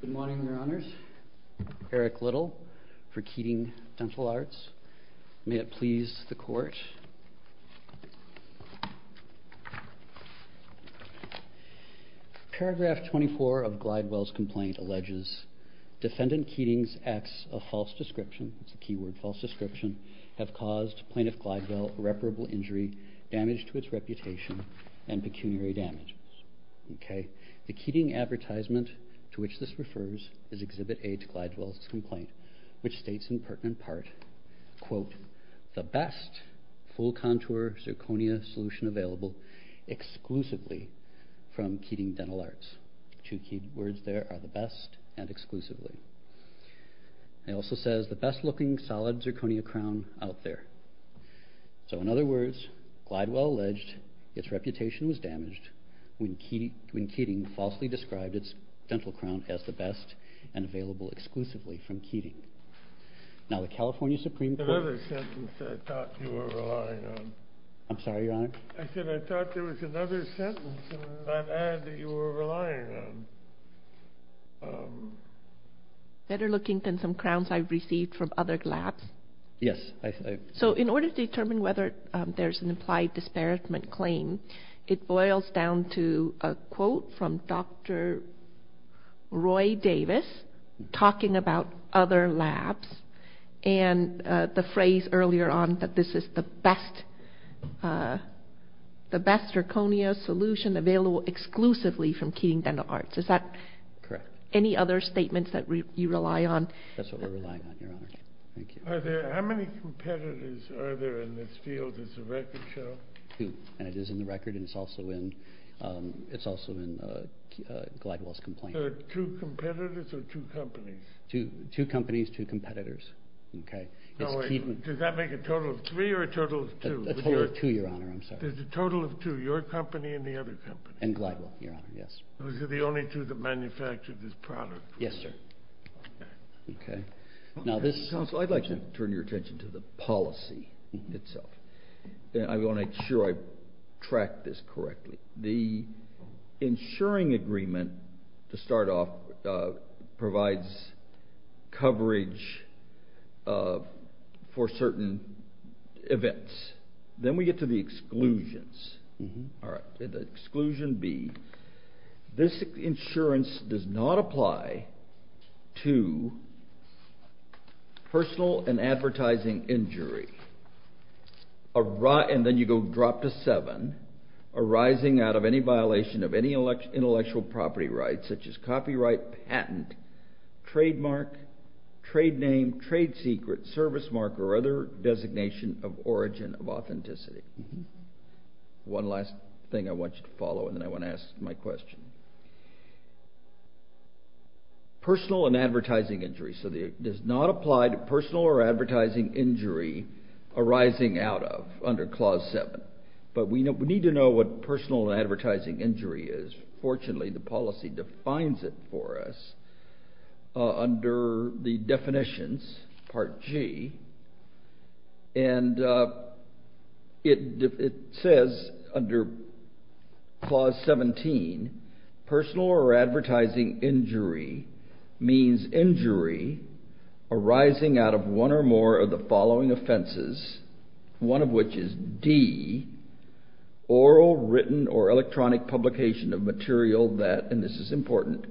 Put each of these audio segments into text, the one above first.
Good morning, Your Honors. Eric Little, for Keating Dental Arts. May it please the Court. Paragraph 24 of Glidewell's complaint alleges, Defendant Keating's acts of false description, that's a key word, false description, have caused Plaintiff Glidewell irreparable injury, damage to its reputation, and pecuniary damage. The Keating advertisement to which this refers is Exhibit A to Glidewell's complaint, which states in pertinent part, quote, The best full contour zirconia solution available exclusively from Keating Dental Arts. Two key words there are the best and exclusively. It also says the best looking solid zirconia crown out there. So in other words, Glidewell alleged its reputation was damaged when Keating falsely described its dental crown as the best and available exclusively from Keating. Now the California Supreme Court... Another sentence I thought you were relying on. I'm sorry, Your Honor. I said I thought there was another sentence in that ad that you were relying on. Better looking than some crowns I've received from other labs? Yes. So in order to determine whether there's an implied disparagement claim, it boils down to a quote from Dr. Roy Davis talking about other labs and the phrase earlier on that this is the best zirconia solution available exclusively from Keating Dental Arts. Is that correct? Any other statements that you rely on? That's what we're relying on, Your Honor. Thank you. How many competitors are there in this field as a record show? Two. And it is in the record and it's also in Glidewell's complaint. So two competitors or two companies? Two companies, two competitors. Does that make a total of three or a total of two? A total of two, Your Honor. I'm sorry. There's a total of two, your company and the other company? And Glidewell, Your Honor. Yes. Those are the only two that manufactured this product? Yes, sir. Okay. Now this... I'd like to turn your attention to the policy itself. I want to make sure I track this correctly. The insuring agreement to start off provides coverage for certain events. Then we get to the exclusions. All right. The exclusion B, this insurance does not apply to personal and advertising injury, and then you go drop to seven, arising out of any violation of any intellectual property rights, such as copyright, patent, trademark, trade name, trade secret, service mark, or other designation of origin of authenticity. One last thing I want you to follow and then I want to ask my question. Personal and advertising injury, so it does not apply to personal or advertising injury arising out of under Clause 7, but we need to know what personal and advertising injury is. Fortunately, the policy defines it for us under the definitions, Part G, and it says under Clause 17, personal or advertising injury means injury arising out of one or more of the following offenses, one of which is D, oral, written, or electronic publication of material that, and this is important,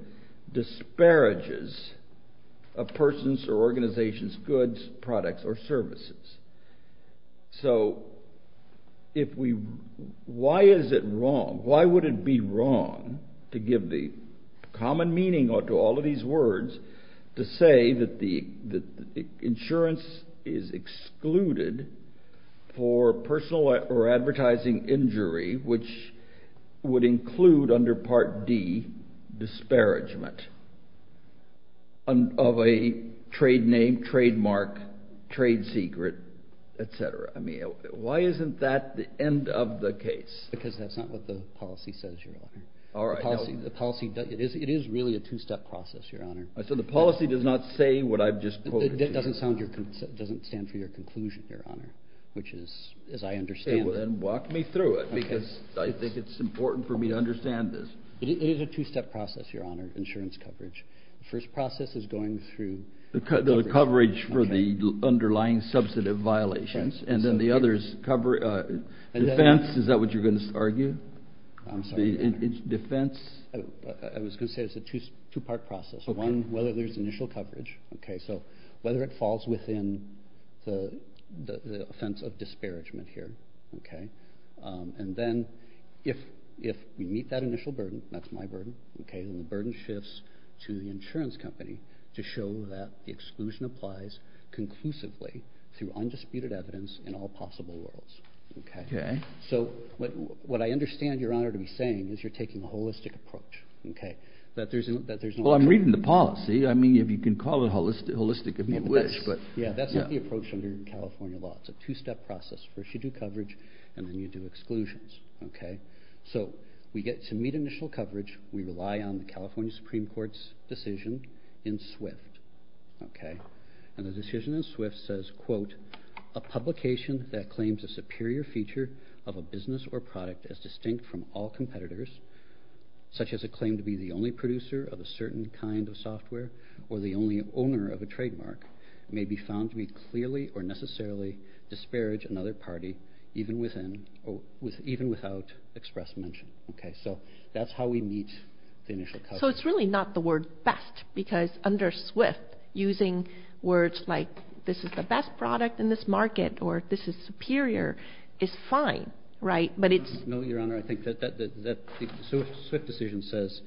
disparages a person's or organization's goods, products, or services. So, why is it wrong? Why would it be wrong to give the common meaning to all of these words to say that the insurance is excluded for personal or advertising injury, which would include under Part D, disparagement of a trade name, trademark, trade secret, etc.? I mean, why isn't that the end of the case? Because that's not what the policy says, Your Honor. All right. The policy, it is really a two-step process, Your Honor. So the policy does not say what I've just quoted. It doesn't stand for your conclusion, Your Honor, which is, as I understand it. Then walk me through it, because I think it's important for me to understand this. It is a two-step process, Your Honor, insurance coverage. The first process is going through... The coverage for the underlying substantive violations, and then the others cover, defense, is that what you're going to argue? I'm sorry. Defense? I was going to say it's a two-part process. One, whether there's initial coverage, okay, so whether it falls within the offense of disparagement here, okay, and then if we meet that initial burden, that's my burden, okay, and the burden shifts to the insurance company to show that the exclusion applies conclusively through undisputed evidence in all possible worlds, okay. So what I understand, Your Honor, to be saying is you're taking a holistic approach, okay, that there's no... Well, I'm reading the policy. I mean, if you can call it holistic, if you wish, but... Yeah, that's not the approach under California law. It's a two-step process. First, you do coverage, and then you do exclusions, okay. So we get to meet initial coverage. We rely on the California Supreme Court's decision in Swift, okay, and the decision in Swift says, quote, a publication that claims a superior feature of a business or product as distinct from all competitors, such as a claim to be the only producer of a certain kind of software or the clearly or necessarily disparage another party even without express mention, okay. So that's how we meet the initial coverage. So it's really not the word best because under Swift, using words like this is the best product in this market or this is superior is fine, right, but it's... No, Your Honor, I think that the Swift decision says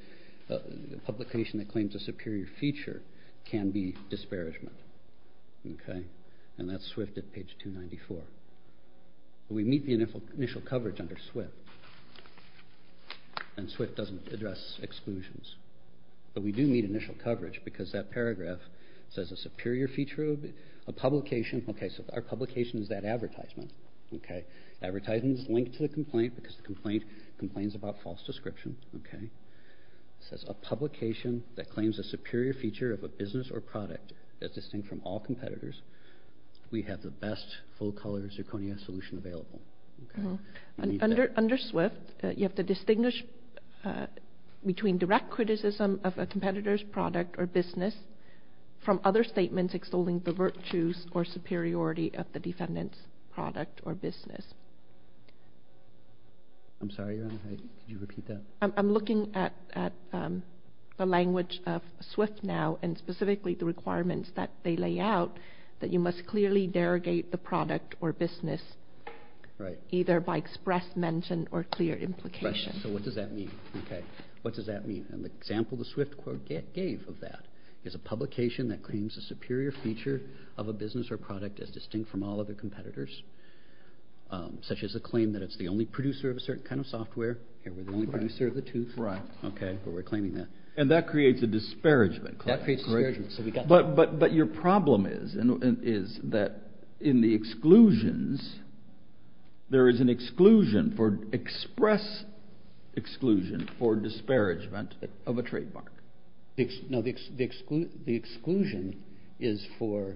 a publication that claims a superior feature can be disparagement, okay, and that's Swift at page 294. We meet the initial coverage under Swift and Swift doesn't address exclusions, but we do meet initial coverage because that paragraph says a superior feature of a publication. Okay, so our publication is that advertisement, okay. Advertisement is linked to the complaint because the complaint complains about false product that's distinct from all competitors. We have the best full-color zirconia solution available, okay. Under Swift, you have to distinguish between direct criticism of a competitor's product or business from other statements extolling the virtues or superiority of the defendant's product or business. I'm sorry, Your Honor, did you repeat that? I'm looking at the language of Swift now and specifically the requirements that they lay out that you must clearly derogate the product or business, right, either by express mention or clear implication. So what does that mean? Okay, what does that mean? An example the Swift court gave of that is a publication that claims a superior feature of a business or product is distinct from all other competitors, such as a claim that it's the only producer of a certain software. We're the only producer of the two, but we're claiming that. And that creates a disparagement. That creates a disparagement. But your problem is that in the exclusions, there is an exclusion for express exclusion for disparagement of a trademark. No, the exclusion is for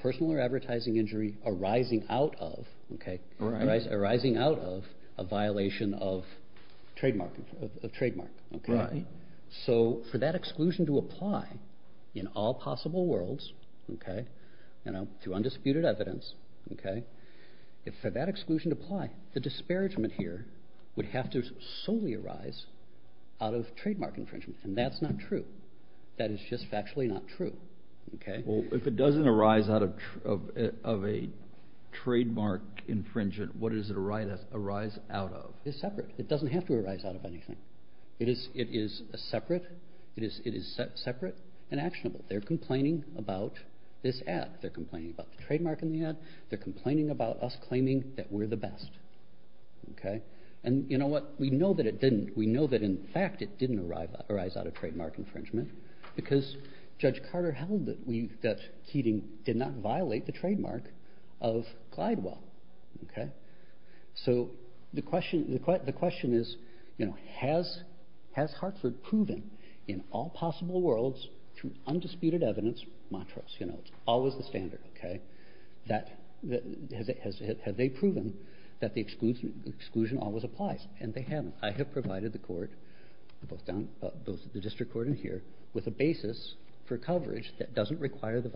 personal or advertising injury arising out of, okay, arising out of a violation of trademark. So for that exclusion to apply in all possible worlds, okay, you know, through undisputed evidence, okay, if for that exclusion to apply, the disparagement here would have to solely arise out of trademark infringement. And that's not true. That is just factually not true. Okay. Well, if it doesn't arise out of a trademark infringement, what does it arise out of? It's separate. It doesn't have to arise out of anything. It is separate. It is separate and actionable. They're complaining about this ad. They're complaining about the trademark in the ad. They're complaining about us claiming that we're the best. Okay. And you know what? We know that it didn't. We know that in fact, it didn't arise out of trademark infringement because Judge Carter held that Keating did not of Glidewell. Okay. So the question is, you know, has Hartford proven in all possible worlds through undisputed evidence, Montrose, you know, it's always the standard, okay, that have they proven that the exclusion always applies? And they haven't. I have provided the court, both the district court and here, with a basis for coverage that doesn't require the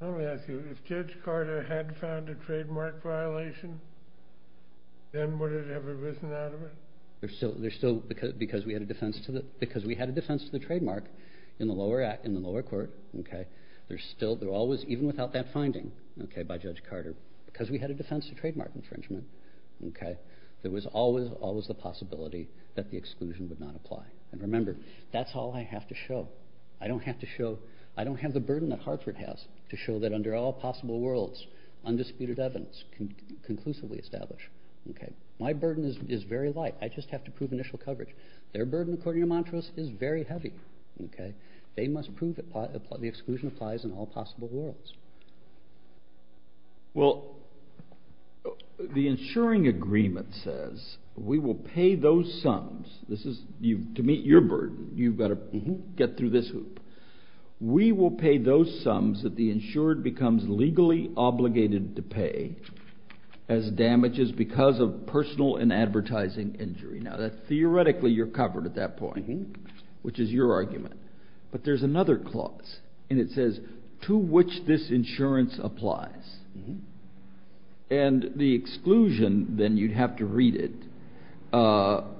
If Judge Carter had found a trademark violation, then would it have arisen out of it? There's still, there's still, because, because we had a defense to the, because we had a defense to the trademark in the lower act, in the lower court. Okay. There's still, there always, even without that finding, okay, by Judge Carter, because we had a defense to trademark infringement. Okay. There was always, always the possibility that the exclusion would not apply. And remember, that's all I have to show. I don't have to show, I don't have the burden that Hartford has to show that under all possible worlds, undisputed evidence can conclusively establish. Okay. My burden is very light. I just have to prove initial coverage. Their burden, according to Montrose, is very heavy. Okay. They must prove that the exclusion applies in all possible worlds. Well, the insuring agreement says we will pay those sums. This is you, to meet your burden, you've got to get through this hoop. We will pay those sums that the insured becomes legally obligated to pay as damages because of personal and advertising injury. Now that theoretically you're covered at that point, which is your argument, but there's another clause and it says to which this insurance applies. Mm-hmm. And the exclusion, then you'd have to read it. Well,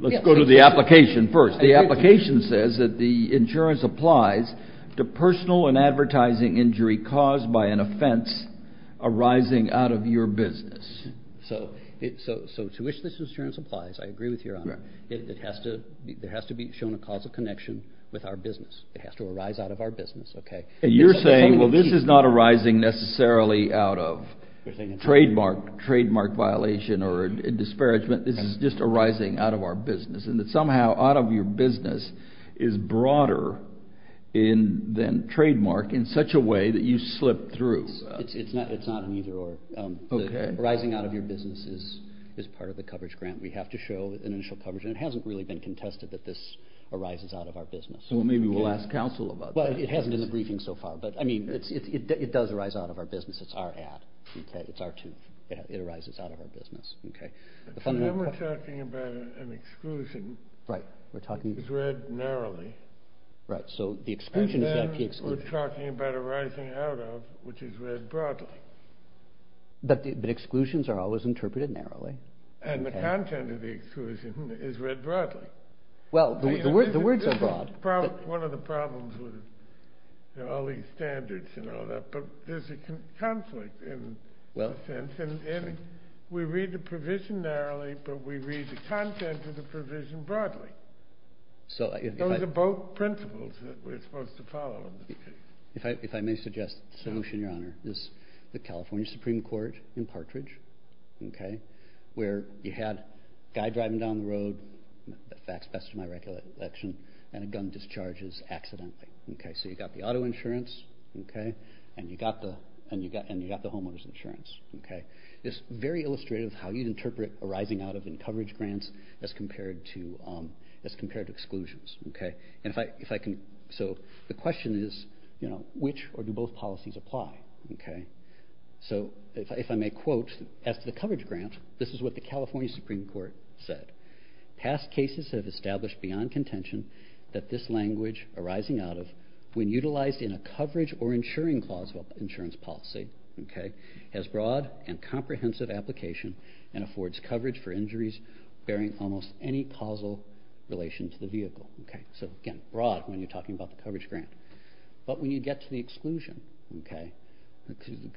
let's go to the application first. The application says that the insurance applies to personal and advertising injury caused by an offense arising out of your business. So to which this insurance applies, I agree with your honor. It has to, there has to be shown a causal connection with our business. It has to arise out of our business. Okay. And you're saying, well, this is not arising necessarily out of trademark violation or disparagement. This is just arising out of our business and that somehow out of your business is broader than trademark in such a way that you slip through. It's not an either or. Okay. Arising out of your business is part of the coverage grant. We have to show an initial coverage and it hasn't really been contested that this arises out of our business so far, but I mean, it's, it does arise out of our business. It's our ad. Okay. It's our tooth. It arises out of our business. Okay. So now we're talking about an exclusion. Right. We're talking. It's read narrowly. Right. So the exclusion is that key exclusion. And then we're talking about arising out of, which is read broadly. But the exclusions are always interpreted narrowly. And the content of the exclusion is read broadly. Well, the words are broad. One of the problems with all these standards and all that, but there's a conflict in well, we read the provision narrowly, but we read the content of the provision broadly. So those are both principles that we're supposed to follow. If I, if I may suggest solution, your honor, this, the California Supreme court in partridge. Okay. Where you had guy driving down the road, the facts best to my recollection, and a gun discharges accidentally. Okay. So you got the auto insurance. Okay. And you got the, and you got, and you got the homeowner's insurance. Okay. It's very illustrative how you'd interpret arising out of in coverage grants as compared to as compared to exclusions. Okay. And if I, if I can, so the question is, you know, which, or do both policies apply? Okay. So if I, if I may quote as to the coverage grant, this is what the California Supreme court said, past cases have established beyond contention that this language arising out of when utilized in a coverage or insuring clause of insurance policy. Okay. Has broad and comprehensive application and affords coverage for injuries bearing almost any causal relation to the vehicle. Okay. So again, broad when you're talking about the coverage grant, but when you get to the exclusion, okay.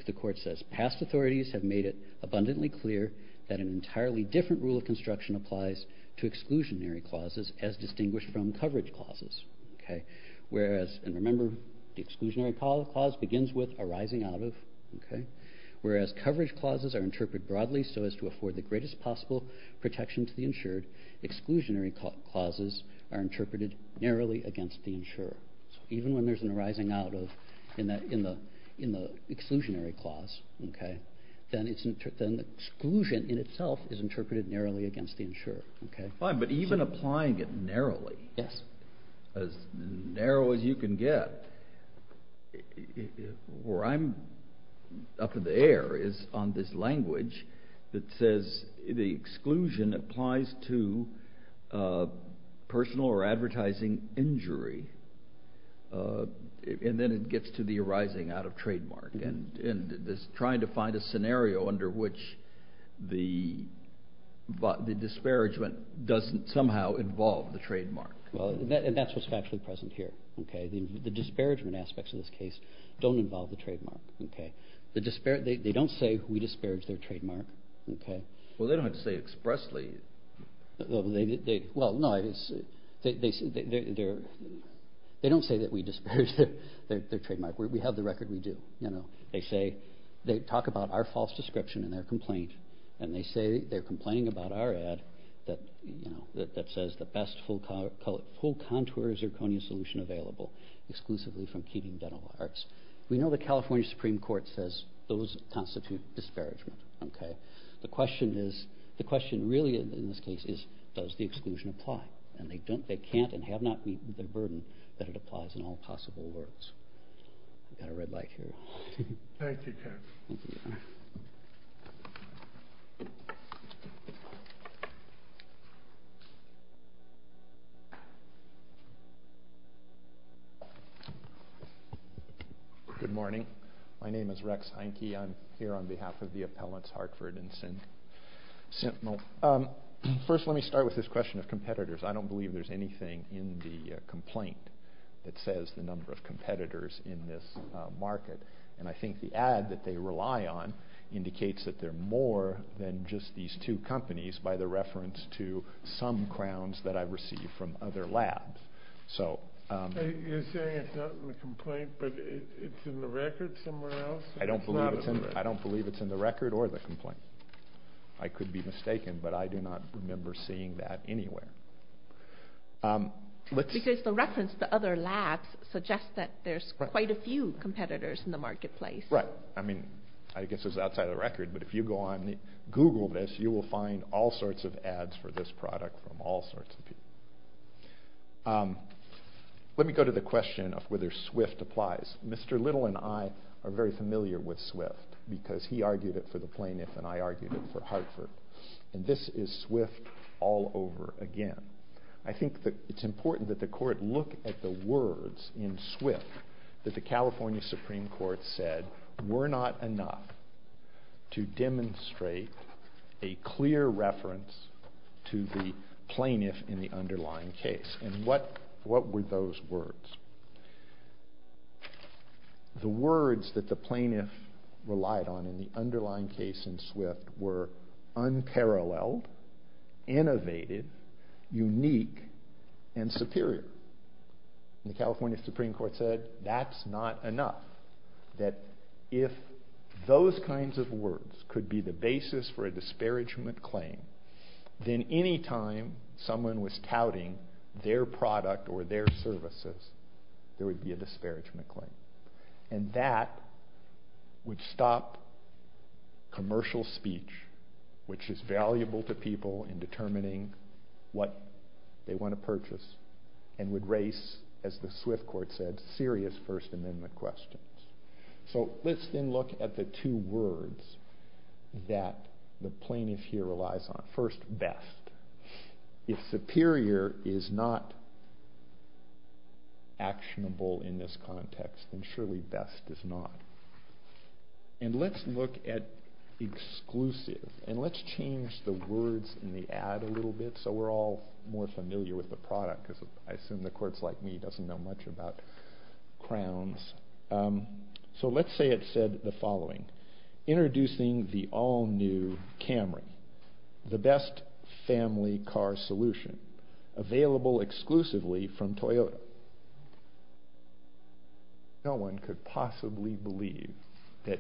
The court says past authorities have made it abundantly clear that an entirely different rule of construction applies to exclusionary clauses as distinguished from coverage clauses. Okay. Whereas, and remember the exclusionary policy clause begins with arising out of, okay. Whereas coverage clauses are interpreted broadly. So as to afford the greatest possible protection to the insured exclusionary clauses are interpreted narrowly against the insurer. So even when there's an arising out of in that, in the, exclusionary clause, okay. Then it's, then the exclusion in itself is interpreted narrowly against the insurer. Okay. Fine. But even applying it narrowly. Yes. As narrow as you can get where I'm up in the air is on this language that says the exclusion applies to the trademark. And this trying to find a scenario under which the disparagement doesn't somehow involve the trademark. Well, and that's what's actually present here. Okay. The disparagement aspects of this case don't involve the trademark. Okay. The disparate, they don't say we disparage their trademark. Okay. Well, they don't have to say expressly. Well, no, it's they, they, they don't say that we disparage their trademark. We have the record. We do, you know, they say they talk about our false description and their complaint. And they say they're complaining about our ad that, you know, that, that says the best full color, full contour zirconia solution available exclusively from Keating Dental Arts. We know the California Supreme Court says those constitute disparagement. Okay. The question is, the question really in this case is, does the exclusion apply? And they don't, they can't and have not the burden that it applies in all possible words. You got a red light here. Good morning. My name is Rex. I'm here on behalf of the appellants, Hartford and the complaint that says the number of competitors in this market. And I think the ad that they rely on indicates that they're more than just these two companies by the reference to some crowns that I received from other labs. So you're saying it's not in the complaint, but it's in the record somewhere else. I don't believe it's in the record or the complaint. I could be mistaken, but I do not remember seeing that anywhere. Because the reference to other labs suggest that there's quite a few competitors in the marketplace. Right. I mean, I guess it's outside of the record, but if you go on Google this, you will find all sorts of ads for this product from all sorts of people. Let me go to the question of whether Swift applies. Mr. Little and I are very familiar with Swift because he argued it for the plaintiff and I argued it for Hartford. And this is Swift all over again. I think that it's important that the court look at the words in Swift that the California Supreme Court said were not enough to demonstrate a clear reference to the plaintiff in the underlying case. And what were those words? The words that the plaintiff relied on in the underlying case in Swift were unparalleled, innovated, unique, and superior. And the California Supreme Court said that's not enough. That if those kinds of words could be the basis for a disparagement claim, then any time someone was touting their product or their services, there would be a disparagement claim. And that would stop commercial speech, which is valuable to people in determining what they want to purchase, and would raise, as the Swift court said, serious First Amendment questions. So let's then look at the two words that the plaintiff here relies on. First, best. If superior is not actionable in this context, then surely best is not. And let's look at exclusive. And let's change the words in the ad a little bit so we're all more familiar with the product because I assume the introducing the all-new Camry, the best family car solution, available exclusively from Toyota. No one could possibly believe that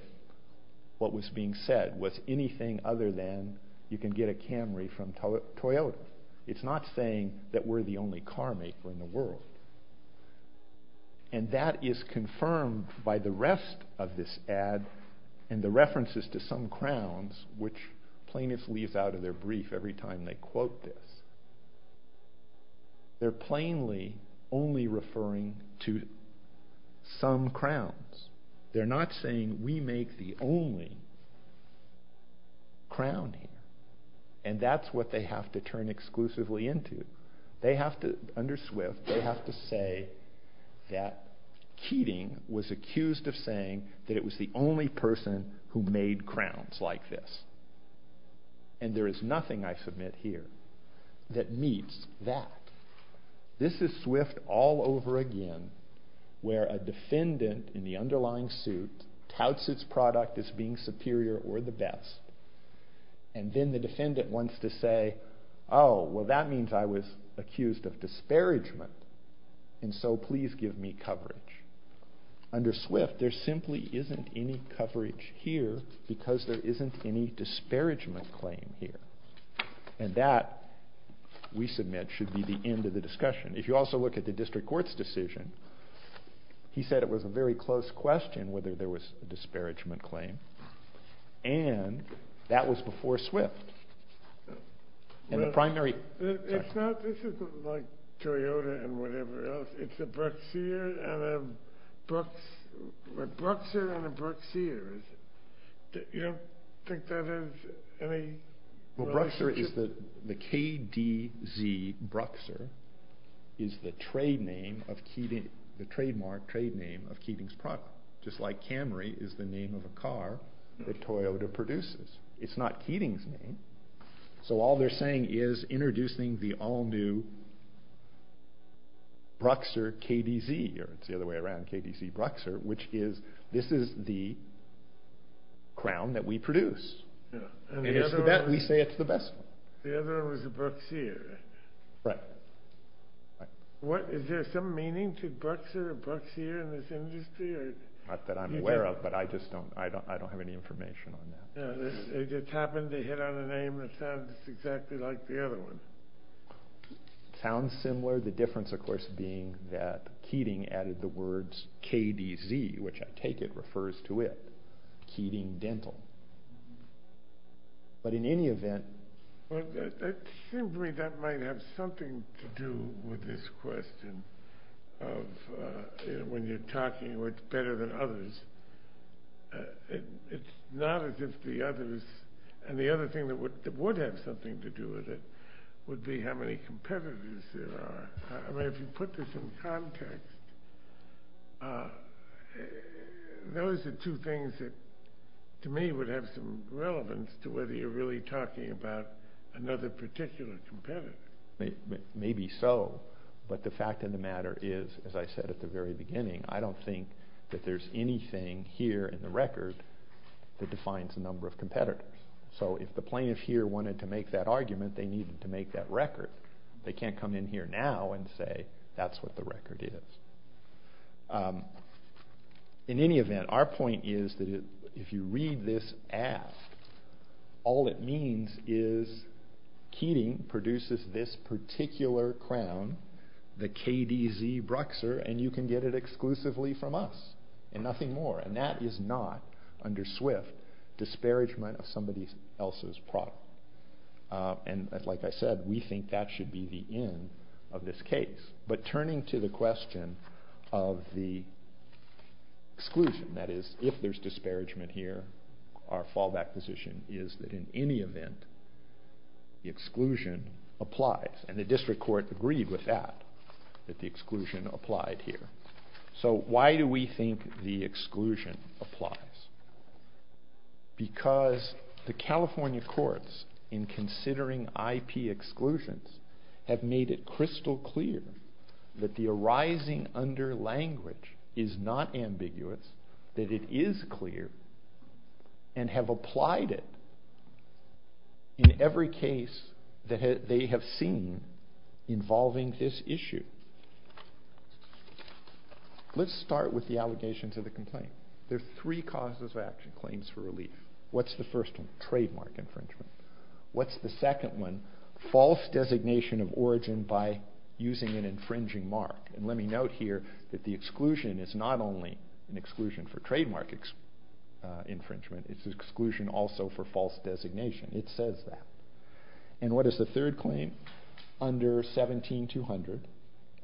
what was being said was anything other than you can get a Camry from Toyota. It's not saying that we're the only car maker in the world. And that is confirmed by the rest of this ad and the references to some crowns, which plaintiffs leave out of their brief every time they quote this. They're plainly only referring to some crowns. They're not saying we make the only crown here. And that's what they have to turn exclusively into. They have to, under Swift, they have to say that Keating was accused of saying that it was the only person who made crowns like this. And there is nothing, I submit here, that meets that. This is Swift all over again where a defendant in the underlying suit touts its product as being superior or the best. And then the defendant wants to say, oh, well, that means I was accused of disparagement. And so please give me coverage. Under Swift, there simply isn't any coverage here because there isn't any disparagement claim here. And that, we submit, should be the end of the discussion. If you also look at the district court's decision, he said it was a very close question whether there was a disparagement claim. And that was before Swift. And the primary- Well, it's not, this isn't like Toyota and whatever else. It's a Bruxier and a Brux, a Bruxier and a Bruxier, is it? You don't think that has any- Well, Bruxier is the, the KDZ Bruxier is the trademark trade name of Keating's product, just like Camry is the name of a car that Toyota produces. It's not Keating's name. So all they're saying is introducing the all-new Bruxier KDZ, or it's the other way around, KDZ Bruxier, which is, this is the crown that we produce. And we say it's the best one. The other one was a Bruxier. Right. What, is there some meaning to Bruxier or Bruxier in this industry? Not that I'm aware of, but I just don't, I don't, I don't have any information on that. Yeah, it just happened to hit on a name that sounds exactly like the other one. Sounds similar. The difference, of course, being that Keating added the words KDZ, which I take it refers to it, Keating Dental. But in any event- It seems to me that might have something to do with this question of, you know, when you're talking, it's better than others. It's not as if the others, and the other thing that would have something to do with it would be how many competitors there are. I mean, if you put this in context, those are two things that to me would have some relevance to whether you're really talking about another particular competitor. Maybe so. But the fact of the matter is, as I said at the very beginning, I don't think that there's anything here in the record that defines the number of competitors. So if the plaintiff here wanted to make that argument, they needed to make that record. They can't come in here now and say, that's what the record is. In any event, our point is that if you read this aft, all it means is Keating produces this particular crown, the KDZ Bruxer, and you can get it exclusively from us and nothing more. And that is not under SWIFT, disparagement of somebody else's product. And like I said, we think that should be the end of this case. But turning to the question of the exclusion, that is, if there's disparagement here, our fallback position is that in any event, the exclusion applies. And the district court agreed with that, that the exclusion applied here. So why do we think the exclusion applies? Because the California courts, in considering IP exclusions, have made it crystal clear that the arising under language is not ambiguous, that it is clear, and have applied it in every case that they have seen involving this issue. Let's start with the allegations of the complaint. There are three causes of action, claims for relief. What's the first one? Trademark infringement. What's the second one? False designation of origin by using an infringing mark. And let me note here that the exclusion is not only an exclusion for trademark infringement, it's exclusion also for false designation. It says that. And what is the third claim? Under 17200.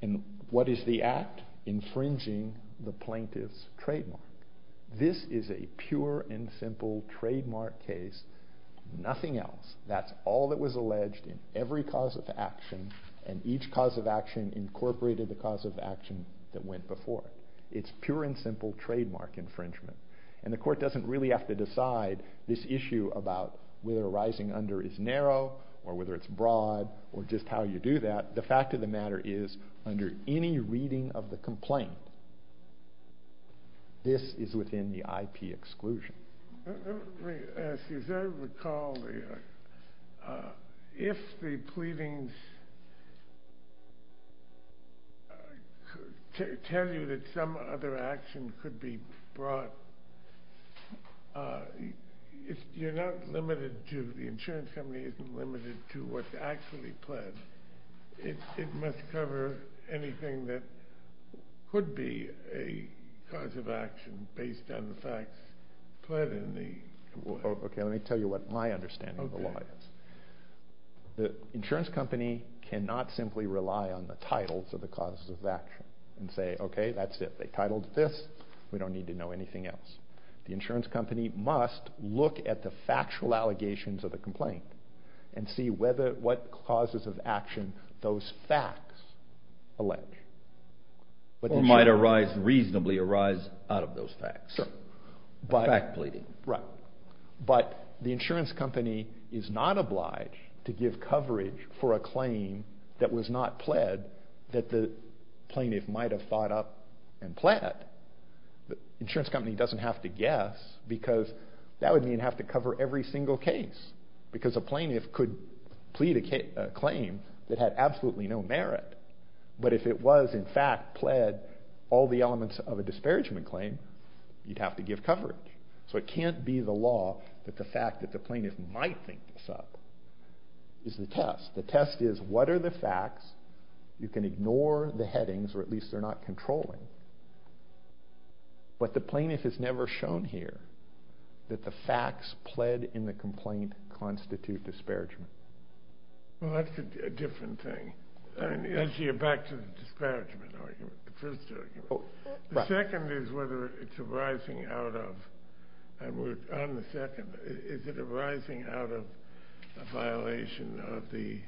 And what is the act? Infringing the plaintiff's trademark. This is a pure and simple trademark case, nothing else. That's all that was alleged in every cause of action, and each cause of action incorporated the cause of action that went before it. It's pure and simple trademark infringement. And the court doesn't really have to decide this issue about whether arising under is narrow, or whether it's broad, or just how you do that. The fact of the matter is, under any reading of the complaint, this is within the IP exclusion. Let me ask you, as I recall, if the pleadings tell you that some other action could be brought, if you're not limited to the insurance company isn't limited to what's actually pledged, it must cover anything that could be a cause of action based on the facts pledged in the complaint? Okay, let me tell you what my understanding of the law is. The insurance company cannot simply rely on the titles of the causes of action and say, okay, that's it. They titled this, we don't need to know anything else. The insurance company must look at the factual allegations of the complaint and see what causes of action those facts allege. Or might reasonably arise out of those facts. Fact pleading. Right. But the insurance company is not obliged to give coverage for a claim that was not pled, that the plaintiff might have thought up and pled. The insurance company doesn't have to guess because that would mean have to cover every single case. Because a plaintiff could plead a claim that had absolutely no merit. But if it was in fact pled all the elements of a disparagement claim, you'd have to give coverage. So it can't be the law that the fact that the plaintiff might think this up is the test. The test is, what are the facts? You can ignore the headings, or at least they're not controlling. But the plaintiff has never shown here that the facts pled in the complaint constitute disparagement. Well, that's a different thing. As you're back to the disparagement argument, the first argument. The second is whether it's arising out of, and we're on the second, is it arising out of a violation of the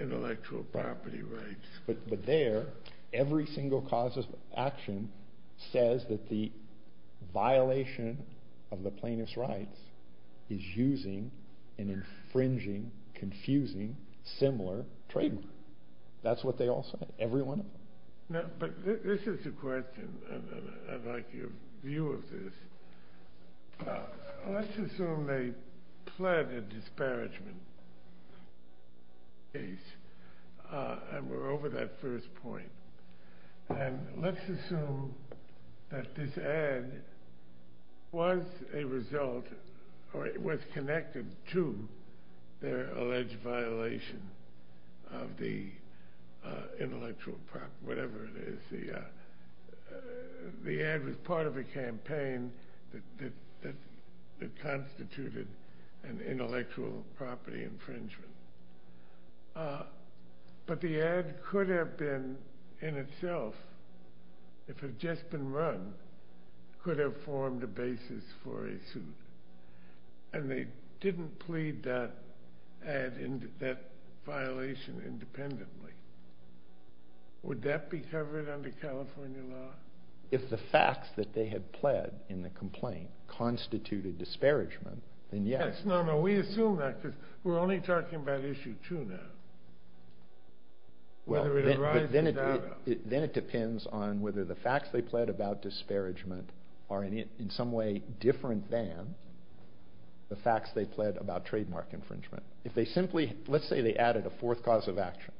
intellectual property rights? But there, every single cause of action says that the violation of the plaintiff's rights is using an infringing, confusing, similar trademark. That's what they all say. Every one of them. But this is a question, and I'd like your view of this. Let's assume they pled a disparagement case, and we're over that first point. And let's assume that this ad was a result, or it was connected to their alleged violation of the intellectual property, whatever it is. The ad was part of a campaign that constituted an intellectual property infringement. But the ad could have been, in itself, if it had just been run, could have formed a basis for a suit. And they didn't plead that violation independently. Would that be covered under California law? If the facts that they had pled in the complaint constituted disparagement, then yes. No, no. We assume that, because we're only talking about issue two now. Whether it arises out of. Then it depends on whether the facts they pled about disparagement are, in some way, different than the facts they pled about trademark infringement. Let's say they added a fourth cause of action.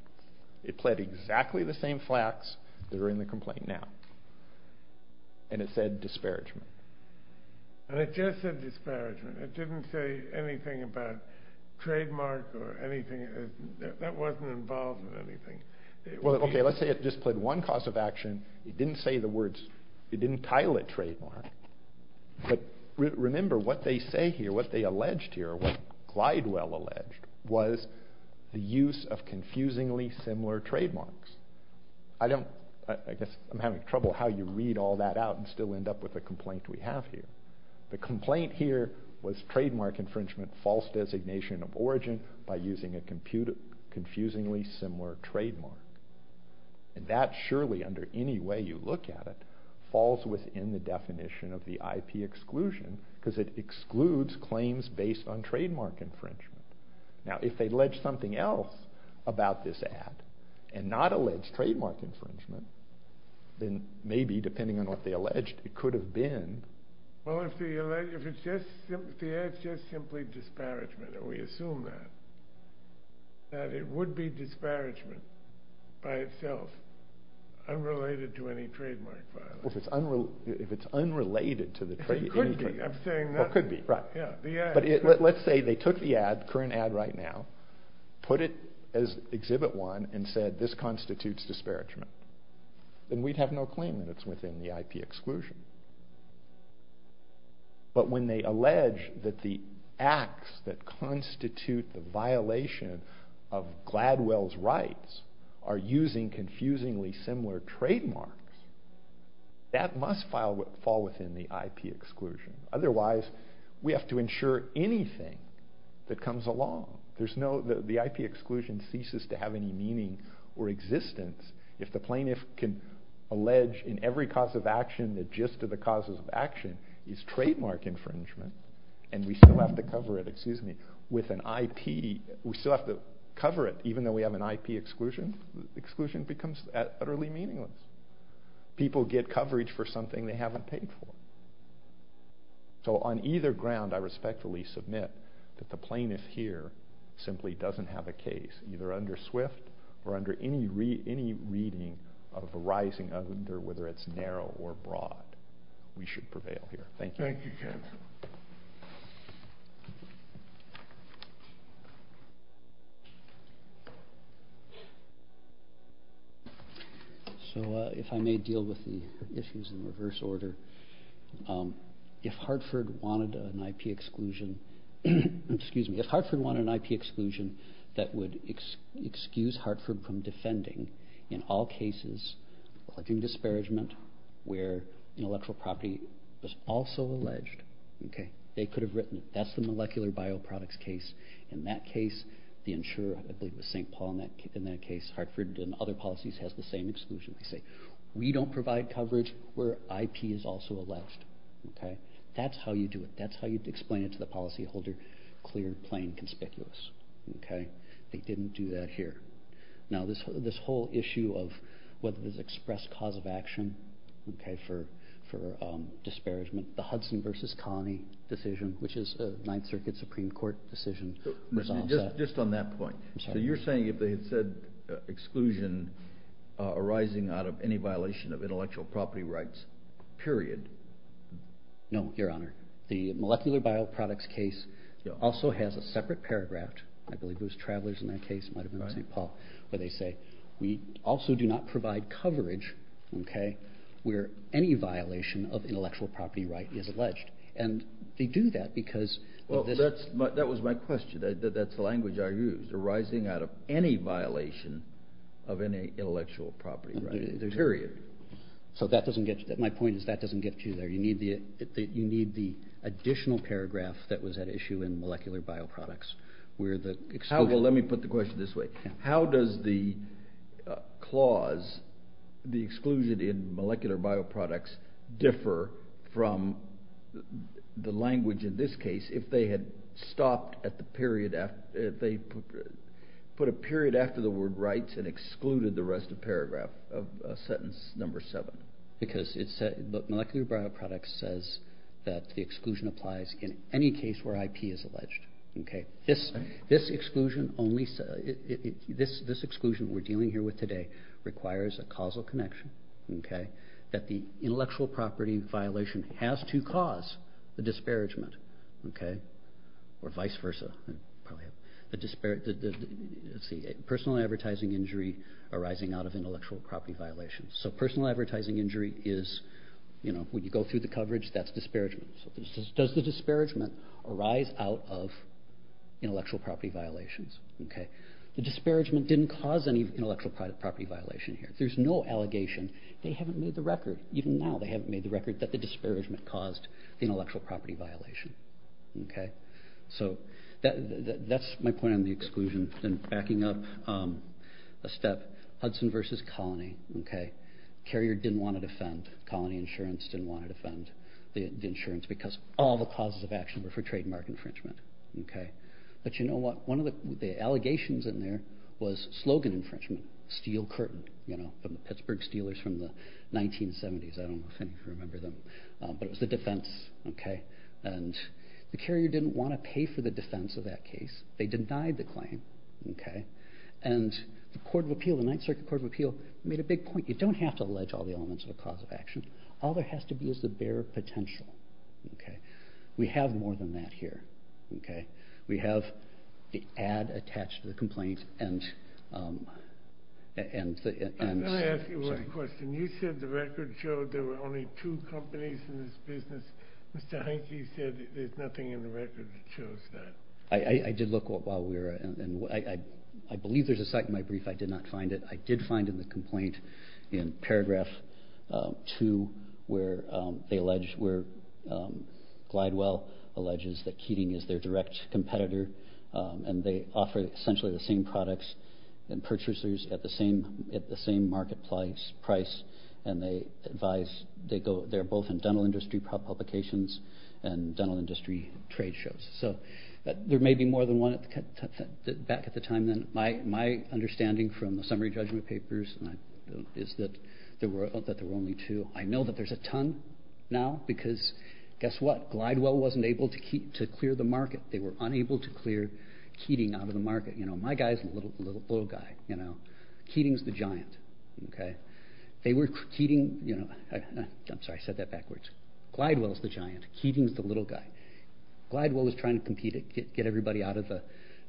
It pled exactly the same facts that are in the complaint now, and it said disparagement. And it just said disparagement. It didn't say anything about trademark or anything. That wasn't involved in anything. Well, okay. Let's say it just pled one cause of action. It didn't say the words. It didn't title it trademark. But remember what they say here, what they alleged here, what Glidewell alleged was the use of confusingly similar trademarks. I guess I'm having trouble how you read all that out and still end up with the complaint we have here. The complaint here was And that surely, under any way you look at it, falls within the definition of the IP exclusion, because it excludes claims based on trademark infringement. Now, if they allege something else about this ad and not allege trademark infringement, then maybe, depending on what they alleged, it could have been. Well, if the ad's just simply disparagement, and we assume that, that it would be disparagement by itself, unrelated to any trademark violence. Well, if it's unrelated to the trade... It could be. I'm saying that... It could be, right. Yeah, the ad... But let's say they took the ad, current ad right now, put it as exhibit one, and said, this constitutes disparagement. Then we'd have no claim that it's within the IP exclusion. But when they allege that the acts that constitute the violation of Gladwell's rights are using confusingly similar trademarks, that must fall within the IP exclusion. Otherwise, we have to ensure anything that comes along. There's no... The IP exclusion ceases to have any meaning or existence if the plaintiff can allege in every cause of action that just to the causes of action is trademark infringement, and we still have to cover it, excuse me, with an IP... We still have to cover it, even though we have an IP exclusion. Exclusion becomes utterly meaningless. People get coverage for something they haven't paid for. So on either ground, I respectfully submit that the plaintiff here simply doesn't have a case, either under SWIFT or under any reading of the rising under, whether it's narrow or broad. We should prevail here. Thank you. Thank you, Kevin. So if I may deal with the issues in reverse order, if Hartford wanted an IP exclusion, excuse me, if Hartford wanted an IP exclusion that would excuse Hartford from defending in all cases of disparagement where intellectual property was also alleged, they could have written it. That's the molecular bioproducts case. In that case, the insurer, I believe it was St. Paul in that case, Hartford and other policies has the same exclusion. They say, we don't provide coverage where IP is also alleged. That's how you do it. That's how you explain it to the policyholder, clear, plain, conspicuous. They didn't do that here. Now this whole issue of whether there's expressed cause of action for disparagement, the Hudson versus colony decision, which is a ninth circuit Supreme court decision. Just on that point. So you're saying if they had said exclusion arising out of any violation of intellectual property rights, period. No, your honor. The molecular bioproducts case also has a separate paragraph. I believe it was travelers in that case might've been St. Paul, where they say, we also do not provide coverage. Okay. Where any violation of intellectual property right is alleged. And they do that because that was my question. That's the language I used arising out of any violation of any intellectual property, period. So that doesn't get you that my point is that doesn't get you there. You need the, you need the additional paragraph that was at issue in molecular bioproducts. We're the, well, let me put the question this way. How does the clause, the exclusion in molecular bioproducts differ from the language in this case? If they had stopped at the period, they put a period after the word rights and excluded the rest of paragraph of a sentence number seven, because it's a molecular bioproducts says that the exclusion applies in any case where IP is alleged. Okay. This, this exclusion only, this, this exclusion we're dealing here with today requires a causal connection. Okay. That the intellectual property violation has to cause the disparagement. Okay. Or vice versa, probably the disparate, let's see, personal advertising injury arising out of intellectual property violations. So personal advertising injury is, you know, when you go through the coverage, that's disparagement. Does the disparagement arise out of intellectual property violations? Okay. The disparagement didn't cause any intellectual private property violation here. There's no allegation. They haven't made the record. Even now they haven't made the record that the disparagement caused the intellectual property violation. Okay. So that, that, that's my point on the exclusion and backing up a step Hudson versus colony. Okay. Carrier didn't want to defend. Colony insurance didn't want to defend the insurance because all the causes of action were for trademark infringement. Okay. But you know what, one of the allegations in there was slogan infringement, steel curtain, you know, from the Pittsburgh Steelers from the 1970s. I don't know if any of you remember them, but it was the defense. Okay. And the carrier didn't want to pay for the defense of that case. They denied the claim. Okay. And the court of appeal, the ninth circuit court of appeal made a big point. You don't have to allege all the elements of a cause of action. All there has to be is the bare potential. Okay. We have more than that here. Okay. We have the ad attached to the complaint and, and, and, and I'm going to ask you one question. You said the record showed there were only two companies in this business. Mr. Hankey said there's nothing in the record that shows that. I did look while we were, and I, I believe there's a site in my brief. I did not find it. I did find in the complaint in paragraph two, where they alleged where Glidewell alleges that Keating is their direct competitor. And they offer essentially the same products and purchasers at the same, at the same marketplace price. And they advise, they go, they're both in dental industry publications and dental industry trade shows. So there may be more than one at the time. Then my, my understanding from the summary judgment papers is that there were, that there were only two. I know that there's a ton now because guess what? Glidewell wasn't able to keep, to clear the market. They were unable to clear Keating out of the market. You know, my guy's a little, little guy, you know, Keating's the giant. Okay. They were Keating, you know, I'm sorry, I said that backwards. Glidewell's the giant. Keating's the little guy. Glidewell was trying to compete to get everybody out of the,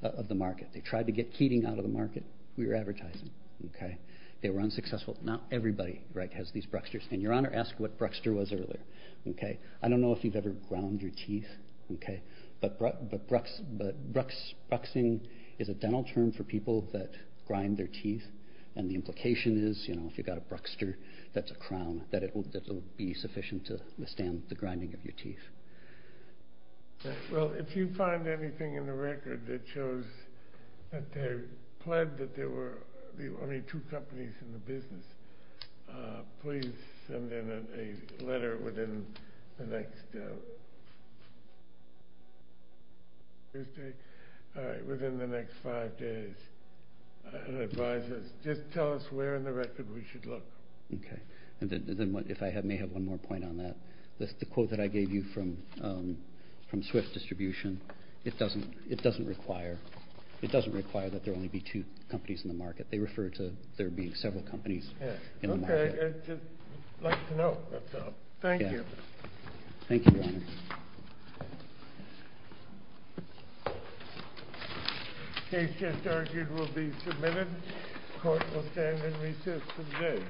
of the market. They tried to get Keating out of the market. We were advertising. Okay. They were unsuccessful. Not everybody, right, has these Brucksters. And your honor asked what Bruckster was earlier. Okay. I don't know if you've ever ground your teeth. Okay. But, but Brucks, but Brucks, Bruxing is a dental term for people that grind their teeth. And the implication is, you know, if you've got a Bruckster, that's a crown that it will be sufficient to withstand the grinding of your teeth. Well, if you find anything in the record that shows that they pled that there were the only two companies in the business, please send in a letter within the next, all right, within the next five days, and advise us, just tell us where in the record we should look. Okay. And then if I may have one more point on that, that's the quote that I gave you from, from Swift Distribution. It doesn't, it doesn't require, it doesn't require that there only be two companies in the market. They refer to there being several companies. Okay. I'd just like to know. That's all. Thank you. Thank you, your honor. Case just argued will be submitted. Court will stand in recess today.